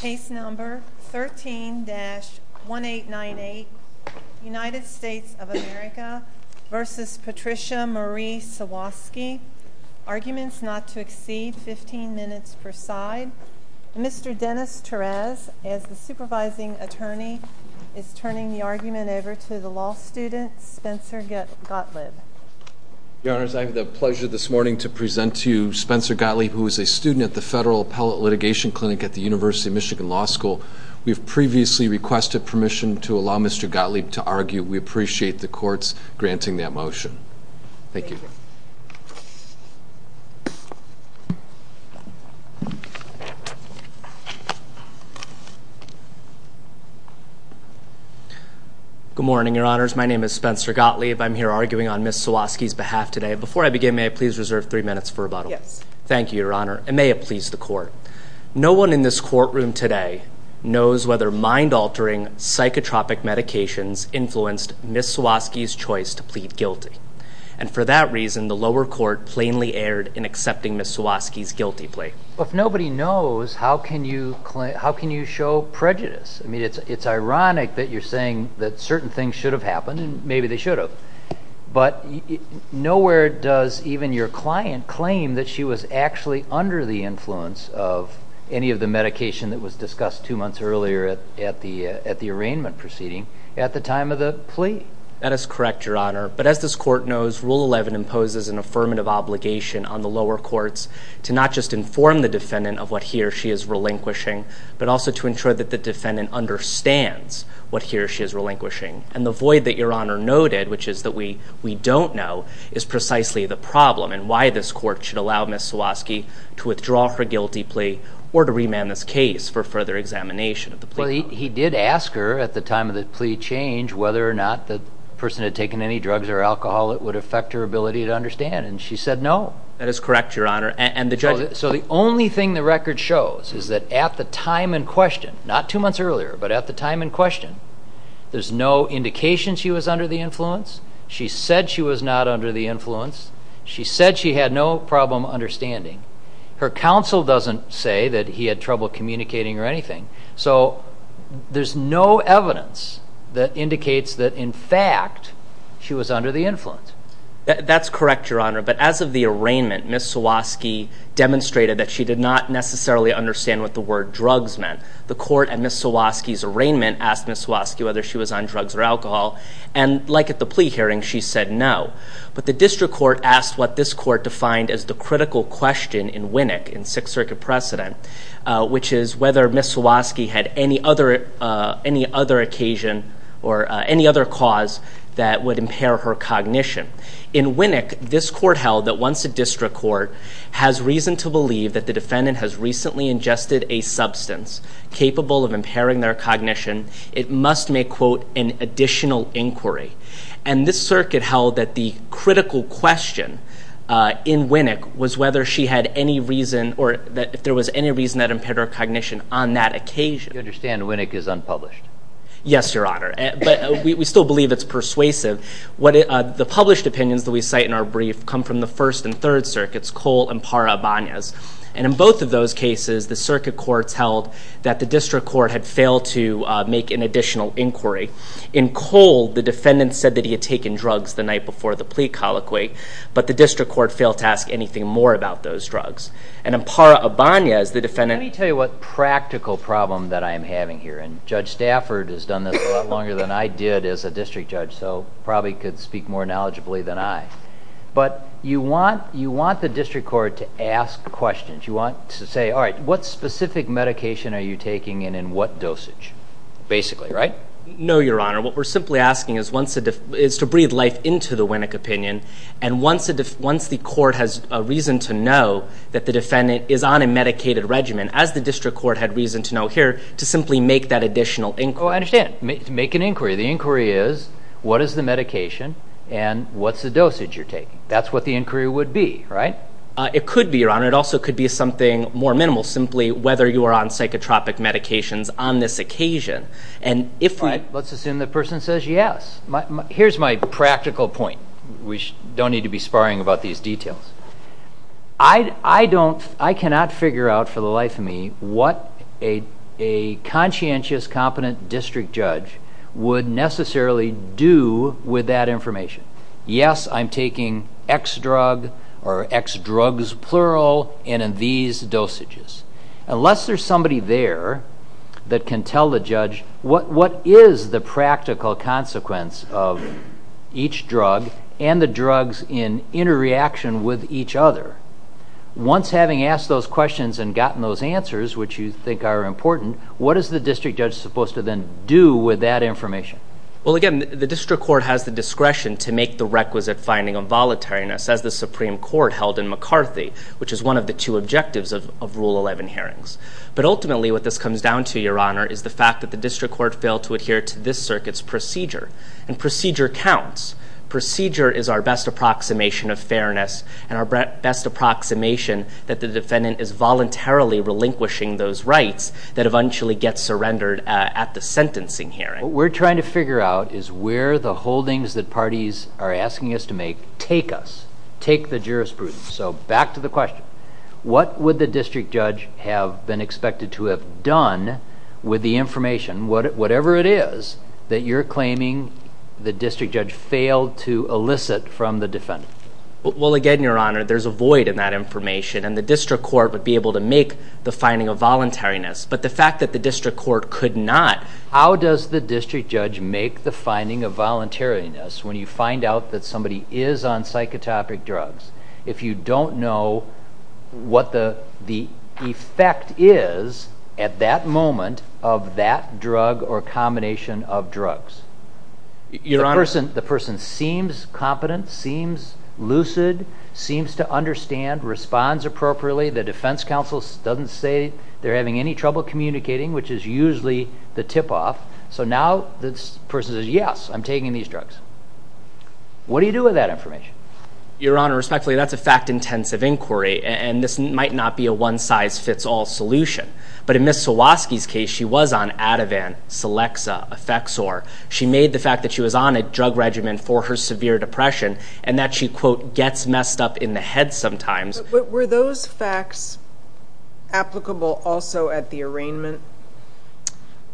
Case number 13-1898, United States of America v. Patricia Marie Sawasky. Arguments not to exceed 15 minutes per side. Mr. Dennis Torres, as the supervising attorney, is turning the argument over to the law student, Spencer Gottlieb. Your Honors, I have the pleasure this morning to present to you Spencer Gottlieb, who is a student at the Federal Appellate Litigation Clinic at the University of Michigan Law School. We have previously requested permission to allow Mr. Gottlieb to argue. We appreciate the courts granting that motion. Thank you. Good morning, Your Honors. My name is Spencer Gottlieb. I'm here arguing on Ms. Sawasky's behalf today. Before I begin, may I please reserve three minutes for rebuttal? Yes. Thank you, Your Honor, and may it please the court. No one in this courtroom today knows whether mind-altering, psychotropic medications influenced Ms. Sawasky's choice to plead guilty. And for that reason, the lower court plainly erred in accepting Ms. Sawasky's guilty plea. If nobody knows, how can you show prejudice? I mean, it's ironic that you're saying that certain things should have happened, and maybe they should have. But nowhere does even your client claim that she was actually under the influence of any of the medication that was discussed two months earlier at the arraignment proceeding at the time of the plea. That is correct, Your Honor. But as this court knows, Rule 11 imposes an affirmative obligation on the lower courts to not just inform the defendant of what he or she is relinquishing, but also to ensure that the defendant understands what he or she is relinquishing. And the void that Your Honor noted, which is that we don't know, is precisely the problem, and why this court should allow Ms. Sawasky to withdraw her guilty plea or to remand this case for further examination of the plea. Well, he did ask her at the time of the plea change whether or not the person had taken any drugs or alcohol that would affect her ability to understand, and she said no. That is correct, Your Honor. So the only thing the record shows is that at the time in question, not two months earlier, but at the time in question, there's no indication she was under the influence. She said she was not under the influence. She said she had no problem understanding. Her counsel doesn't say that he had trouble communicating or anything. So there's no evidence that indicates that, in fact, she was under the influence. That's correct, Your Honor. But as of the arraignment, Ms. Sawasky demonstrated that she did not necessarily understand what the word drugs meant. The court at Ms. Sawasky's arraignment asked Ms. Sawasky whether she was on drugs or alcohol, and like at the plea hearing, she said no. But the district court asked what this court defined as the critical question in Winnick in Sixth Circuit precedent, which is whether Ms. Sawasky had any other occasion or any other cause that would impair her cognition. In Winnick, this court held that once a district court has reason to believe that the defendant has recently ingested a substance capable of impairing their cognition, it must make, quote, an additional inquiry. And this circuit held that the critical question in Winnick was whether she had any reason or that if there was any reason that impaired her cognition on that occasion. You understand Winnick is unpublished. Yes, Your Honor. But we still believe it's persuasive. The published opinions that we cite in our brief come from the First and Third Circuits, Cole and Parra-Ibanez. And in both of those cases, the circuit courts held that the district court had failed to make an additional inquiry. In Cole, the defendant said that he had taken drugs the night before the plea colloquy, but the district court failed to ask anything more about those drugs. And in Parra-Ibanez, the defendant – Let me tell you what practical problem that I am having here. And Judge Stafford has done this a lot longer than I did as a district judge, so probably could speak more knowledgeably than I. But you want the district court to ask questions. You want to say, all right, what specific medication are you taking and in what dosage, basically, right? No, Your Honor. What we're simply asking is to breathe life into the Winnick opinion. And once the court has a reason to know that the defendant is on a medicated regimen, as the district court had reason to know here, to simply make that additional inquiry. Oh, I understand. Make an inquiry. The inquiry is, what is the medication and what's the dosage you're taking? That's what the inquiry would be, right? It could be, Your Honor. It also could be something more minimal, simply whether you are on psychotropic medications on this occasion. Let's assume the person says yes. Here's my practical point. We don't need to be sparring about these details. I cannot figure out for the life of me what a conscientious, competent district judge would necessarily do with that information. Yes, I'm taking X drug or X drugs, plural, and in these dosages. Unless there's somebody there that can tell the judge what is the practical consequence of each drug and the drugs in interreaction with each other, once having asked those questions and gotten those answers, which you think are important, what is the district judge supposed to then do with that information? Well, again, the district court has the discretion to make the requisite finding of volatileness, as the Supreme Court held in McCarthy, which is one of the two objectives of Rule 11 hearings. But ultimately, what this comes down to, Your Honor, is the fact that the district court failed to adhere to this circuit's procedure, and procedure counts. Procedure is our best approximation of fairness and our best approximation that the defendant is voluntarily relinquishing those rights that eventually get surrendered at the sentencing hearing. What we're trying to figure out is where the holdings that parties are asking us to make take us, take the jurisprudence. So back to the question. What would the district judge have been expected to have done with the information, whatever it is, that you're claiming the district judge failed to elicit from the defendant? Well, again, Your Honor, there's a void in that information, and the district court would be able to make the finding of voluntariness. But the fact that the district court could not. How does the district judge make the finding of voluntariness when you find out that somebody is on psychotropic drugs if you don't know what the effect is at that moment of that drug or combination of drugs? Your Honor. The person seems competent, seems lucid, seems to understand, responds appropriately. The defense counsel doesn't say they're having any trouble communicating, which is usually the tip off. So now this person says, yes, I'm taking these drugs. What do you do with that information? Your Honor, respectfully, that's a fact-intensive inquiry, and this might not be a one-size-fits-all solution. But in Ms. Zawadzki's case, she was on Ativan, Celexa, Effexor. She made the fact that she was on a drug regimen for her severe depression and that she, quote, gets messed up in the head sometimes. But were those facts applicable also at the arraignment,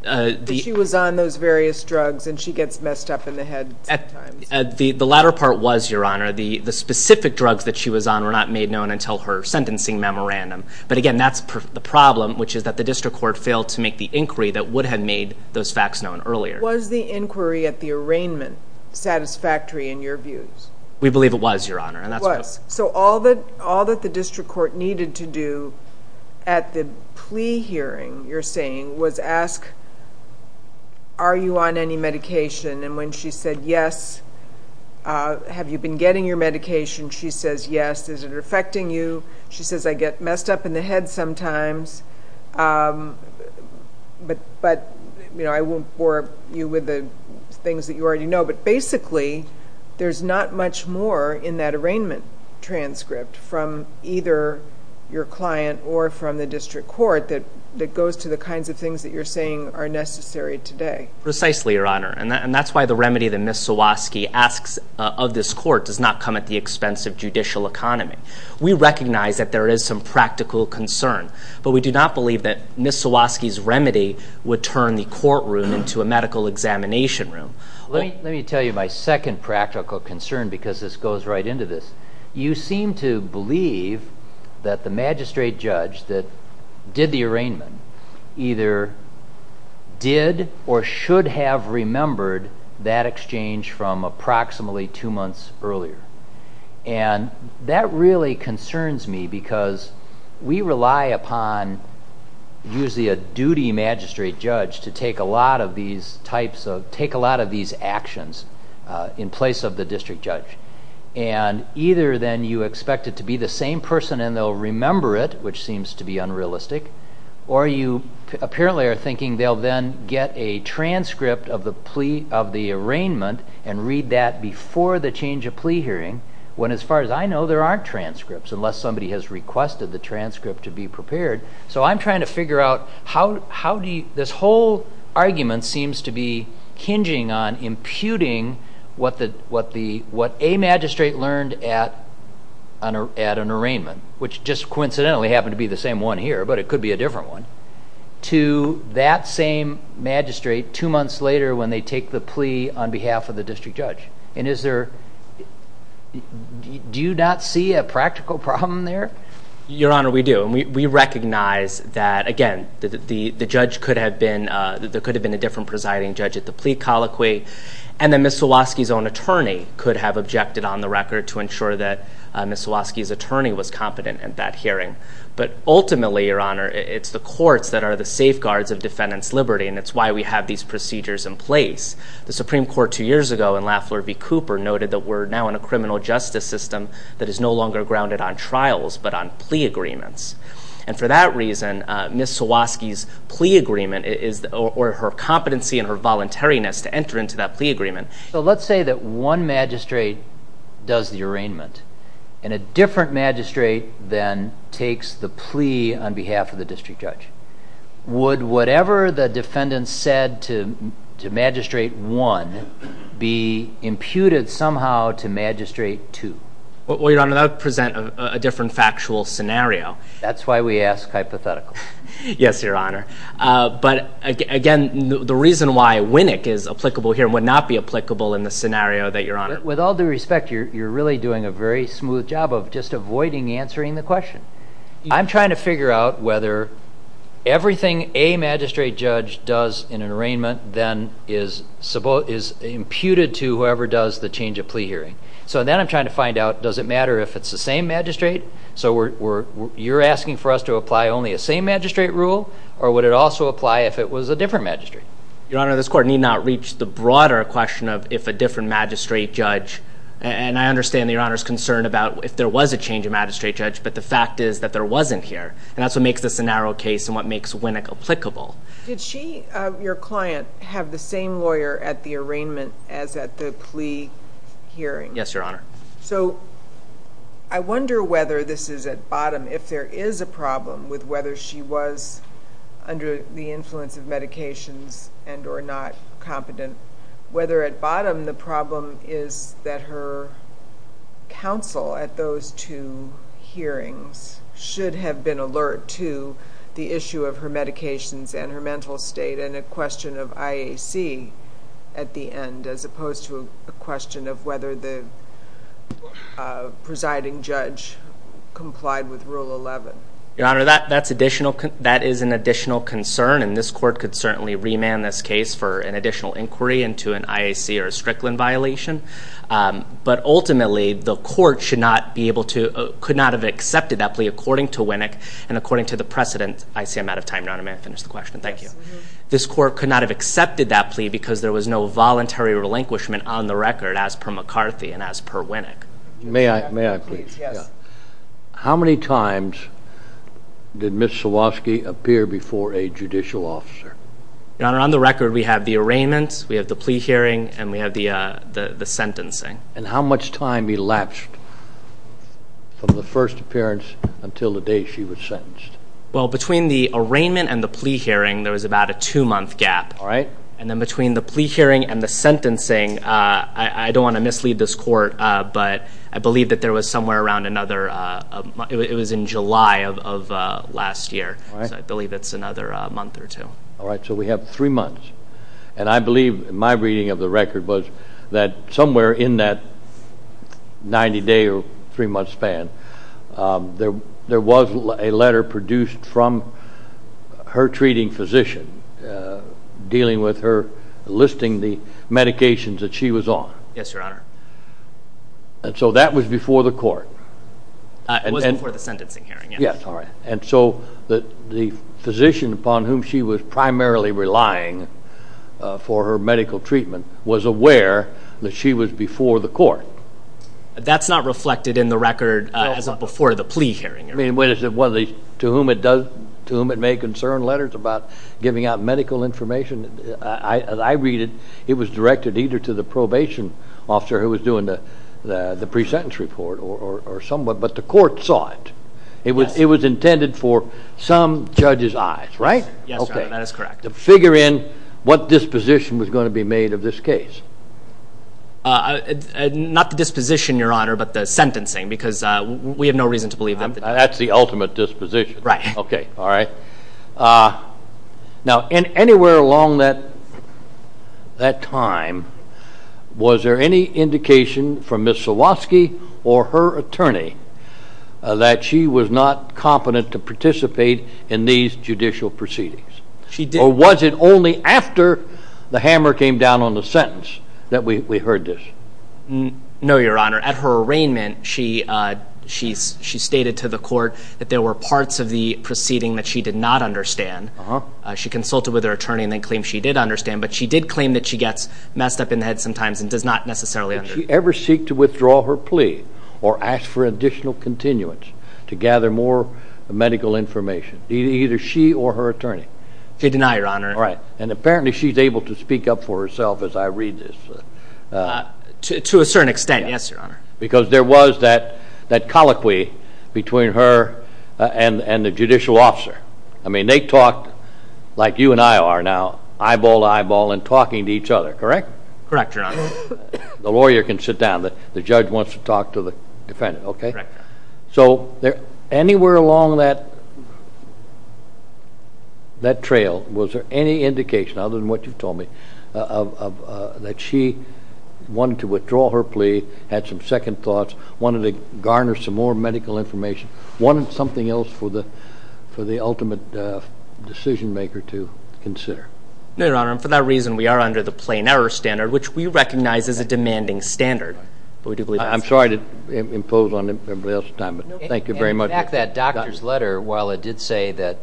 that she was on those various drugs and she gets messed up in the head sometimes? The latter part was, Your Honor. The specific drugs that she was on were not made known until her sentencing memorandum. But again, that's the problem, which is that the district court failed to make the inquiry that would have made those facts known earlier. Was the inquiry at the arraignment satisfactory in your views? We believe it was, Your Honor. It was. So all that the district court needed to do at the plea hearing, you're saying, was ask, are you on any medication? And when she said, yes, have you been getting your medication? She says, yes. Is it affecting you? She says, I get messed up in the head sometimes, but I won't bore you with the things that you already know. But basically, there's not much more in that arraignment transcript from either your client or from the district court that goes to the kinds of things that you're saying are necessary today. Precisely, Your Honor. And that's why the remedy that Ms. Zawadzki asks of this court does not come at the expense of judicial economy. We recognize that there is some practical concern, but we do not believe that Ms. Zawadzki's remedy would turn the courtroom into a medical examination room. Let me tell you my second practical concern because this goes right into this. You seem to believe that the magistrate judge that did the arraignment either did or should have remembered that exchange from approximately two months earlier. And that really concerns me because we rely upon usually a duty magistrate judge to take a lot of these actions in place of the district judge. And either then you expect it to be the same person and they'll remember it, which seems to be unrealistic, or you apparently are thinking they'll then get a transcript of the plea of the arraignment and read that before the change of plea hearing when, as far as I know, there aren't transcripts, unless somebody has requested the transcript to be prepared. So I'm trying to figure out how this whole argument seems to be kinging on imputing what a magistrate learned at an arraignment, which just coincidentally happened to be the same one here, but it could be a different one, to that same magistrate two months later when they take the plea on behalf of the district judge. And do you not see a practical problem there? Your Honor, we do, and we recognize that, again, the judge could have been, there could have been a different presiding judge at the plea colloquy, and then Ms. Zawadzki's own attorney could have objected on the record to ensure that Ms. Zawadzki's attorney was competent at that hearing. But ultimately, Your Honor, it's the courts that are the safeguards of defendants' liberty, and it's why we have these procedures in place. The Supreme Court two years ago in Lafleur v. Cooper noted that we're now in a criminal justice system that is no longer grounded on trials but on plea agreements. And for that reason, Ms. Zawadzki's plea agreement is, or her competency and her voluntariness to enter into that plea agreement. So let's say that one magistrate does the arraignment, and a different magistrate then takes the plea on behalf of the district judge. Would whatever the defendant said to magistrate one be imputed somehow to magistrate two? Well, Your Honor, that would present a different factual scenario. That's why we ask hypotheticals. Yes, Your Honor. But, again, the reason why Winnick is applicable here would not be applicable in the scenario that you're on. With all due respect, you're really doing a very smooth job of just avoiding answering the question. I'm trying to figure out whether everything a magistrate judge does in an arraignment then is imputed to whoever does the change of plea hearing. So then I'm trying to find out, does it matter if it's the same magistrate? So you're asking for us to apply only a same magistrate rule, or would it also apply if it was a different magistrate? Your Honor, this Court need not reach the broader question of if a different magistrate judge, and I understand Your Honor's concern about if there was a change of magistrate judge, but the fact is that there wasn't here. And that's what makes this a narrow case and what makes Winnick applicable. Did she, your client, have the same lawyer at the arraignment as at the plea hearing? Yes, Your Honor. So I wonder whether this is at bottom, if there is a problem with whether she was under the influence of medications and or not competent, whether at bottom the problem is that her counsel at those two hearings should have been alert to the issue of her medications and her mental state and a question of IAC at the end as opposed to a question of whether the presiding judge complied with Rule 11. Your Honor, that is an additional concern, and this Court could certainly remand this case for an additional inquiry into an IAC or a Strickland violation. But ultimately, the Court could not have accepted that plea according to Winnick and according to the precedent. I see I'm out of time, Your Honor. May I finish the question? Thank you. This Court could not have accepted that plea because there was no voluntary relinquishment on the record as per McCarthy and as per Winnick. May I, please? Yes. How many times did Ms. Sawowski appear before a judicial officer? Your Honor, on the record, we have the arraignment, we have the plea hearing, and we have the sentencing. And how much time elapsed from the first appearance until the day she was sentenced? Well, between the arraignment and the plea hearing, there was about a two-month gap. All right. And then between the plea hearing and the sentencing, I don't want to mislead this Court, but I believe that there was somewhere around another month. It was in July of last year, so I believe it's another month or two. All right. So we have three months. And I believe my reading of the record was that somewhere in that 90-day or three-month span, there was a letter produced from her treating physician dealing with her listing the medications that she was on. Yes, Your Honor. And so that was before the court. It was before the sentencing hearing, yes. Yes. All right. And so the physician upon whom she was primarily relying for her medical treatment was aware that she was before the court. That's not reflected in the record as a before the plea hearing. I mean, to whom it may concern, letters about giving out medical information, as I read it, it was directed either to the probation officer who was doing the pre-sentence report or someone. But the court saw it. It was intended for some judge's eyes, right? Yes, Your Honor. That is correct. To figure in what disposition was going to be made of this case. Not the disposition, Your Honor, but the sentencing because we have no reason to believe that. That's the ultimate disposition. Right. Okay. All right. Now, anywhere along that time, was there any indication from Ms. Silovsky or her attorney that she was not competent to participate in these judicial proceedings? Or was it only after the hammer came down on the sentence that we heard this? No, Your Honor. At her arraignment, she stated to the court that there were parts of the proceeding that she did not understand. She consulted with her attorney and then claimed she did understand. But she did claim that she gets messed up in the head sometimes and does not necessarily understand. Did she ever seek to withdraw her plea or ask for additional continuance to gather more medical information? Either she or her attorney? I deny, Your Honor. All right. And apparently she's able to speak up for herself as I read this. To a certain extent, yes, Your Honor. Because there was that colloquy between her and the judicial officer. I mean, they talked like you and I are now, eyeball to eyeball, and talking to each other, correct? Correct, Your Honor. The lawyer can sit down. The judge wants to talk to the defendant, okay? Correct. So anywhere along that trail, was there any indication, other than what you've told me, that she wanted to withdraw her plea, had some second thoughts, wanted to garner some more medical information, wanted something else for the ultimate decision maker to consider? No, Your Honor. And for that reason, we are under the plain error standard, which we recognize is a demanding standard. I'm sorry to impose on everybody else's time, but thank you very much. In fact, that doctor's letter, while it did say that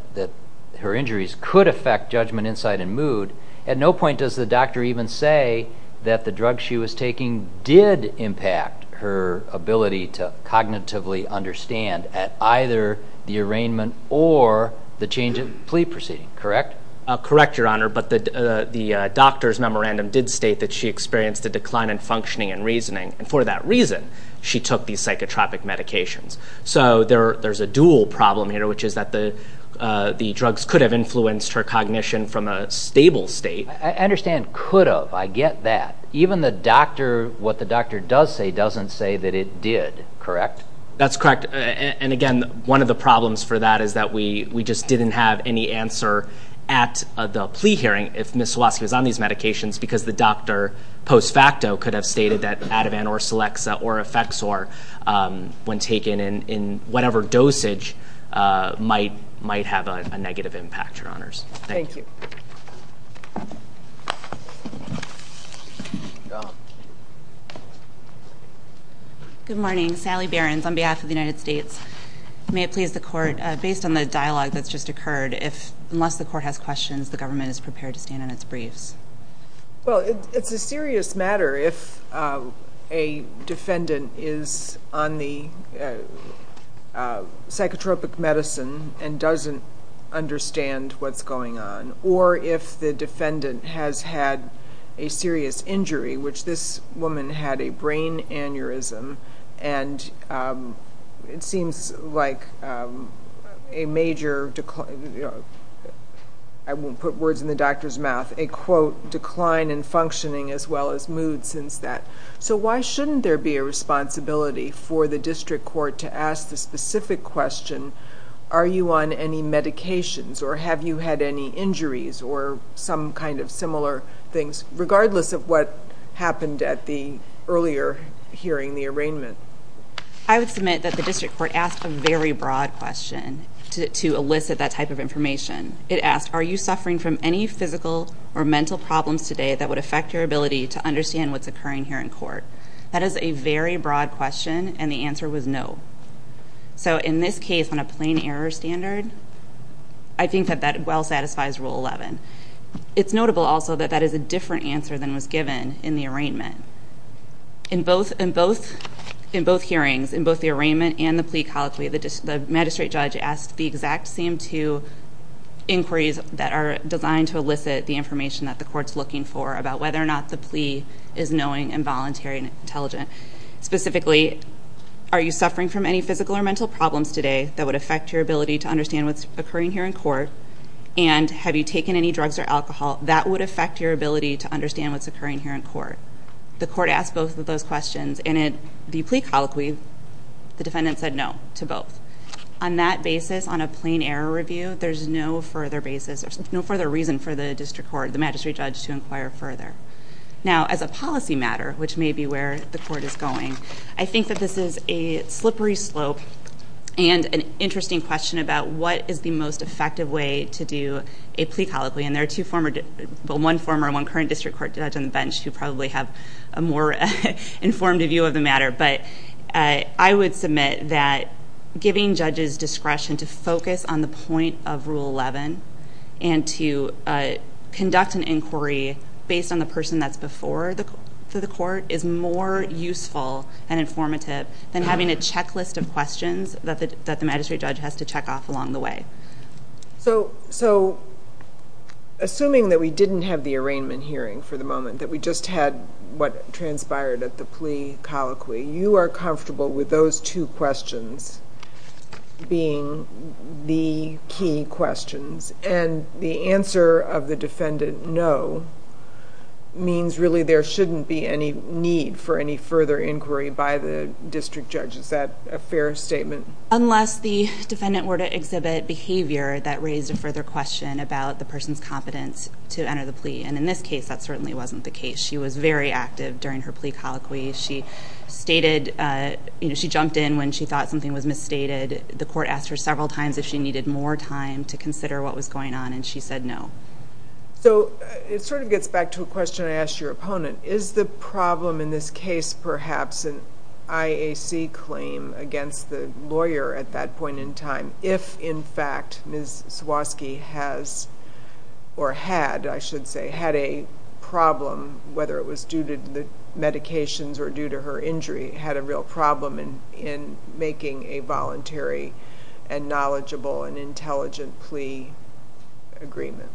her injuries could affect judgment, insight, and mood, at no point does the doctor even say that the drug she was taking did impact her ability to cognitively understand at either the arraignment or the change of plea proceeding, correct? Correct, Your Honor. But the doctor's memorandum did state that she experienced a decline in functioning and reasoning, and for that reason, she took these psychotropic medications. So there's a dual problem here, which is that the drugs could have influenced her cognition from a stable state. I understand could have. I get that. Even what the doctor does say doesn't say that it did, correct? That's correct. And, again, one of the problems for that is that we just didn't have any answer at the plea hearing if Ms. Swatsky was on these medications because the doctor, post facto, could have stated that Ativan or Celexa or Effexor, when taken in whatever dosage, might have a negative impact, Your Honors. Thank you. Thank you. Good morning. Sally Behrens on behalf of the United States. May it please the Court, based on the dialogue that's just occurred, unless the Court has questions, the government is prepared to stand on its briefs. Well, it's a serious matter if a defendant is on the psychotropic medicine and doesn't understand what's going on or if the defendant has had a serious injury, which this woman had a brain aneurysm and it seems like a major... I won't put words in the doctor's mouth, a, quote, decline in functioning as well as mood since that. So why shouldn't there be a responsibility for the district court to ask the specific question, are you on any medications or have you had any injuries or some kind of similar things, regardless of what happened at the earlier hearing, the arraignment? I would submit that the district court asked a very broad question to elicit that type of information. It asked, are you suffering from any physical or mental problems today that would affect your ability to understand what's occurring here in court? That is a very broad question, and the answer was no. So in this case, on a plain error standard, I think that that well satisfies Rule 11. It's notable also that that is a different answer than was given in the arraignment. In both hearings, in both the arraignment and the plea colloquy, the magistrate judge asked the exact same two inquiries that are designed to elicit the information that the court's looking for about whether or not the plea is knowing and voluntary and intelligent. Specifically, are you suffering from any physical or mental problems today that would affect your ability to understand what's occurring here in court? And have you taken any drugs or alcohol that would affect your ability to understand what's occurring here in court? The court asked both of those questions, and in the plea colloquy, the defendant said no to both. On that basis, on a plain error review, there's no further basis, for the magistrate judge to inquire further. Now, as a policy matter, which may be where the court is going, I think that this is a slippery slope and an interesting question about what is the most effective way to do a plea colloquy. And there are two former, well, one former and one current district court judge on the bench who probably have a more informed view of the matter. But I would submit that giving judges discretion to focus on the point of Rule 11 and to conduct an inquiry based on the person that's before the court is more useful and informative than having a checklist of questions that the magistrate judge has to check off along the way. So, assuming that we didn't have the arraignment hearing for the moment, that we just had what transpired at the plea colloquy, you are comfortable with those two questions being the key questions. And the answer of the defendant, no, means really there shouldn't be any need for any further inquiry by the district judge. Is that a fair statement? Unless the defendant were to exhibit behavior that raised a further question about the person's competence to enter the plea. And in this case, that certainly wasn't the case. She was very active during her plea colloquy. She stated, you know, she jumped in when she thought something was misstated. The court asked her several times if she needed more time to consider what was going on, and she said no. So, it sort of gets back to a question I asked your opponent. Is the problem in this case perhaps an IAC claim against the lawyer at that point in time, if, in fact, Ms. Swosky has or had, I should say, had a problem, whether it was due to the medications or due to her injury, had a real problem in making a voluntary and knowledgeable and intelligent plea agreement?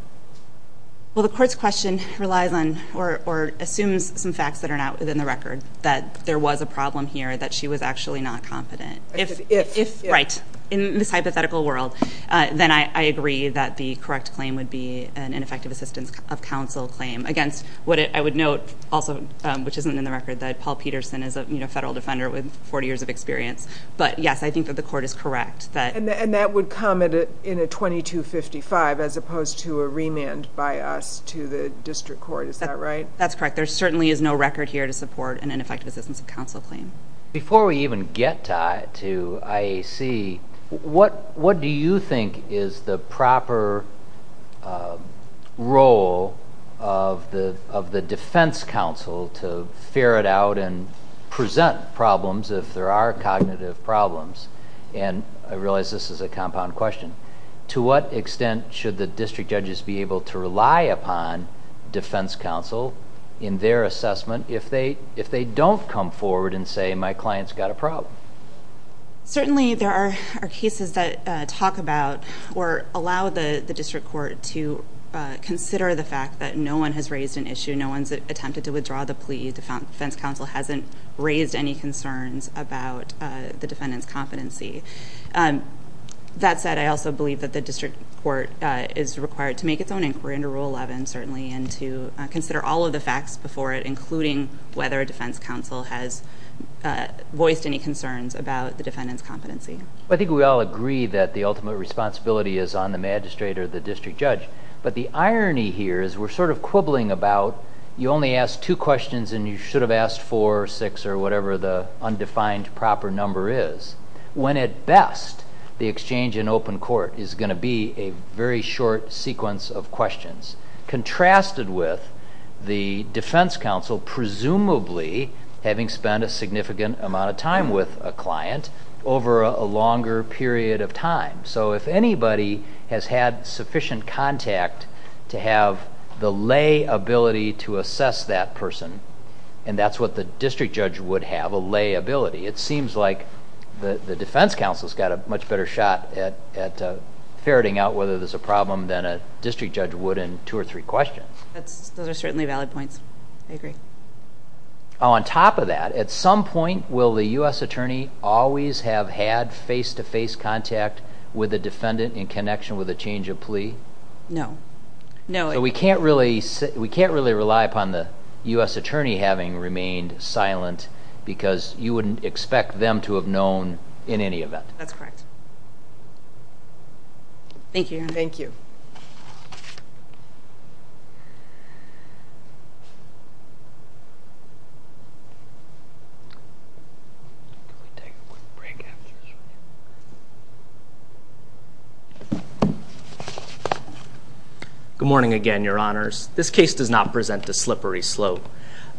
Well, the court's question relies on or assumes some facts that are not within the record, that there was a problem here, that she was actually not competent. If... Right. In this hypothetical world, then I agree that the correct claim would be an ineffective assistance of counsel claim against what I would note also, which isn't in the record, that Paul Peterson is a federal defender with 40 years of experience. But, yes, I think that the court is correct that... And that would come in a 2255 as opposed to a remand by us to the district court. Is that right? That's correct. There certainly is no record here to support an ineffective assistance of counsel claim. Before we even get to IAC, what do you think is the proper role of the defense counsel to ferret out and present problems if there are cognitive problems? I realize this is a compound question. To what extent should the district judges be able to rely upon defense counsel in their assessment if they don't come forward and say, my client's got a problem? Certainly, there are cases that talk about or allow the district court to consider the fact that no one has raised an issue. No one's attempted to withdraw the plea. The defense counsel hasn't raised any concerns about the defendant's competency. That said, I also believe that the district court is required to make its own inquiry under Rule 11, certainly, and to consider all of the facts before it, including whether defense counsel has voiced any concerns about the defendant's competency. I think we all agree that the ultimate responsibility is on the magistrate or the district judge. But the irony here is we're sort of quibbling about... you only asked two questions and you should have asked four or six or whatever the undefined proper number is, when at best, the exchange in open court is going to be a very short sequence of questions. Contrasted with the defense counsel presumably having spent a significant amount of time with a client over a longer period of time. If anybody has had sufficient contact to have the lay ability to assess that person, and that's what the district judge would have, a lay ability, it seems like the defense counsel's got a much better shot at ferreting out whether there's a problem than a district judge would in two or three questions. Those are certainly valid points. I agree. On top of that, at some point, will the U.S. attorney always have had face-to-face contact with the defendant in connection with a change of plea? No. So we can't really rely upon the U.S. attorney having remained silent because you wouldn't expect them to have known in any event. That's correct. Thank you, Your Honor. Thank you. Good morning again, Your Honors. This case does not present a slippery slope.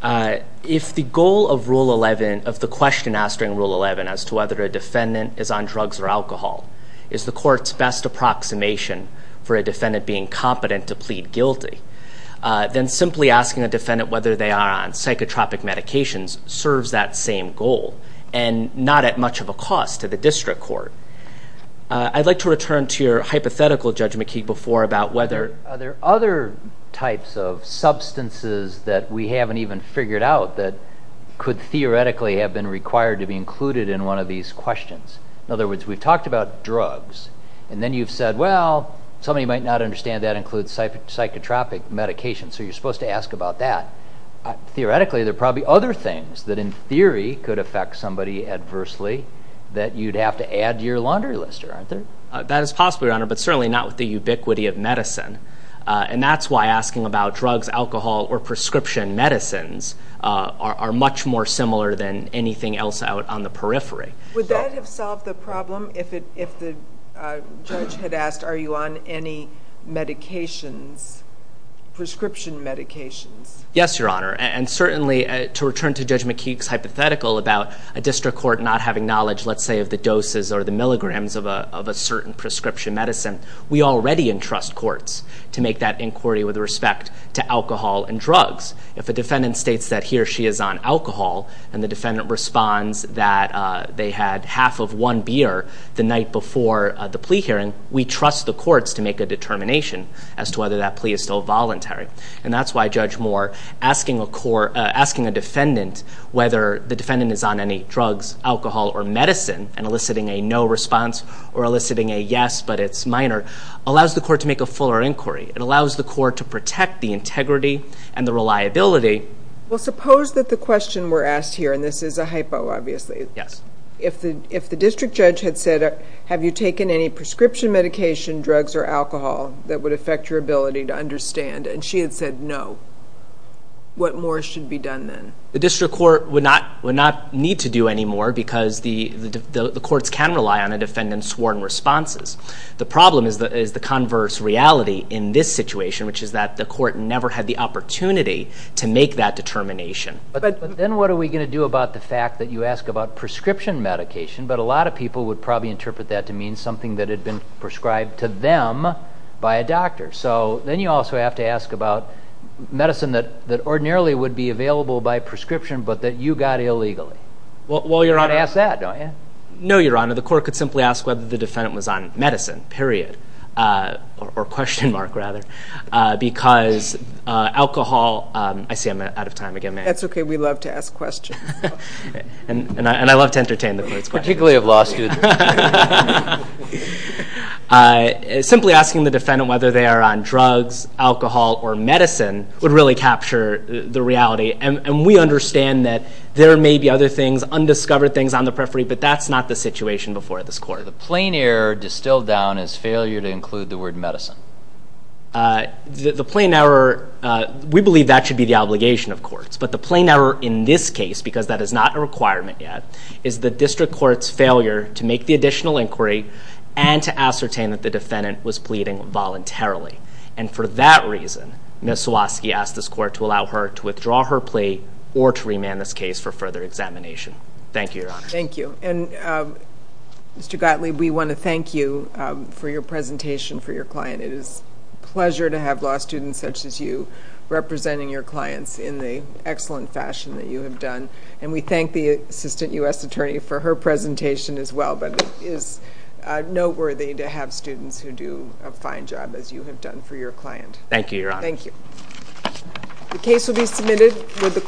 If the goal of the question asked during Rule 11 as to whether a defendant is on drugs or alcohol is the court's best approximation for a defendant being competent to plead guilty, then simply asking a defendant whether they are on psychotropic medications serves that same goal and not at much of a cost to the district court. I'd like to return to your hypothetical, Judge McKee, before about whether there are other types of substances that we haven't even figured out that could theoretically have been required to be included in one of these questions. In other words, we've talked about drugs, and then you've said, well, somebody might not understand that includes psychotropic medications, so you're supposed to ask about that. Theoretically, there are probably other things that in theory could affect somebody adversely that you'd have to add to your laundry list, aren't there? That is possible, Your Honor, but certainly not with the ubiquity of medicine, and that's why asking about drugs, alcohol, or prescription medicines are much more similar than anything else out on the periphery. Would that have solved the problem if the judge had asked, are you on any medications, prescription medications? Yes, Your Honor, and certainly to return to Judge McKee's hypothetical about a district court not having knowledge, let's say, of the doses or the milligrams of a certain prescription medicine, we already entrust courts to make that inquiry with respect to alcohol and drugs. If a defendant states that he or she is on alcohol and the defendant responds that they had half of one beer the night before the plea hearing, we trust the courts to make a determination as to whether that plea is still voluntary. And that's why Judge Moore, asking a defendant whether the defendant is on any drugs, alcohol, or medicine and eliciting a no response or eliciting a yes but it's minor, allows the court to make a fuller inquiry. It allows the court to protect the integrity and the reliability. Well, suppose that the question were asked here, and this is a hypo, obviously. Yes. If the district judge had said, have you taken any prescription medication, drugs, or alcohol that would affect your ability to understand, and she had said no, what more should be done then? The district court would not need to do any more because the courts can rely on a defendant's sworn responses. The problem is the converse reality in this situation, which is that the court never had the opportunity to make that determination. But then what are we going to do about the fact that you ask about prescription medication, but a lot of people would probably interpret that to mean something that had been prescribed to them by a doctor. So then you also have to ask about medicine that ordinarily would be available by prescription, but that you got illegally. Well, Your Honor. You have to ask that, don't you? No, Your Honor. The court could simply ask whether the defendant was on medicine, period, or question mark rather, because alcohol, I see I'm out of time again. That's okay. We love to ask questions. And I love to entertain the court's questions. Particularly of law students. Simply asking the defendant whether they are on drugs, alcohol, or medicine would really capture the reality. And we understand that there may be other things, undiscovered things on the periphery, but that's not the situation before this court. The plain error distilled down is failure to include the word medicine. The plain error, we believe that should be the obligation of courts. But the plain error in this case, because that is not a requirement yet, is the district court's failure to make the additional inquiry and to ascertain that the defendant was pleading voluntarily. And for that reason, Ms. Swosky asked this court to allow her to withdraw her plea or to remand this case for further examination. Thank you, Your Honor. Thank you. And Mr. Gottlieb, we want to thank you for your presentation for your client. It is a pleasure to have law students such as you representing your clients in the excellent fashion that you have done. And we thank the Assistant U.S. Attorney for her presentation as well. But it is noteworthy to have students who do a fine job as you have done for your client. Thank you, Your Honor. Thank you.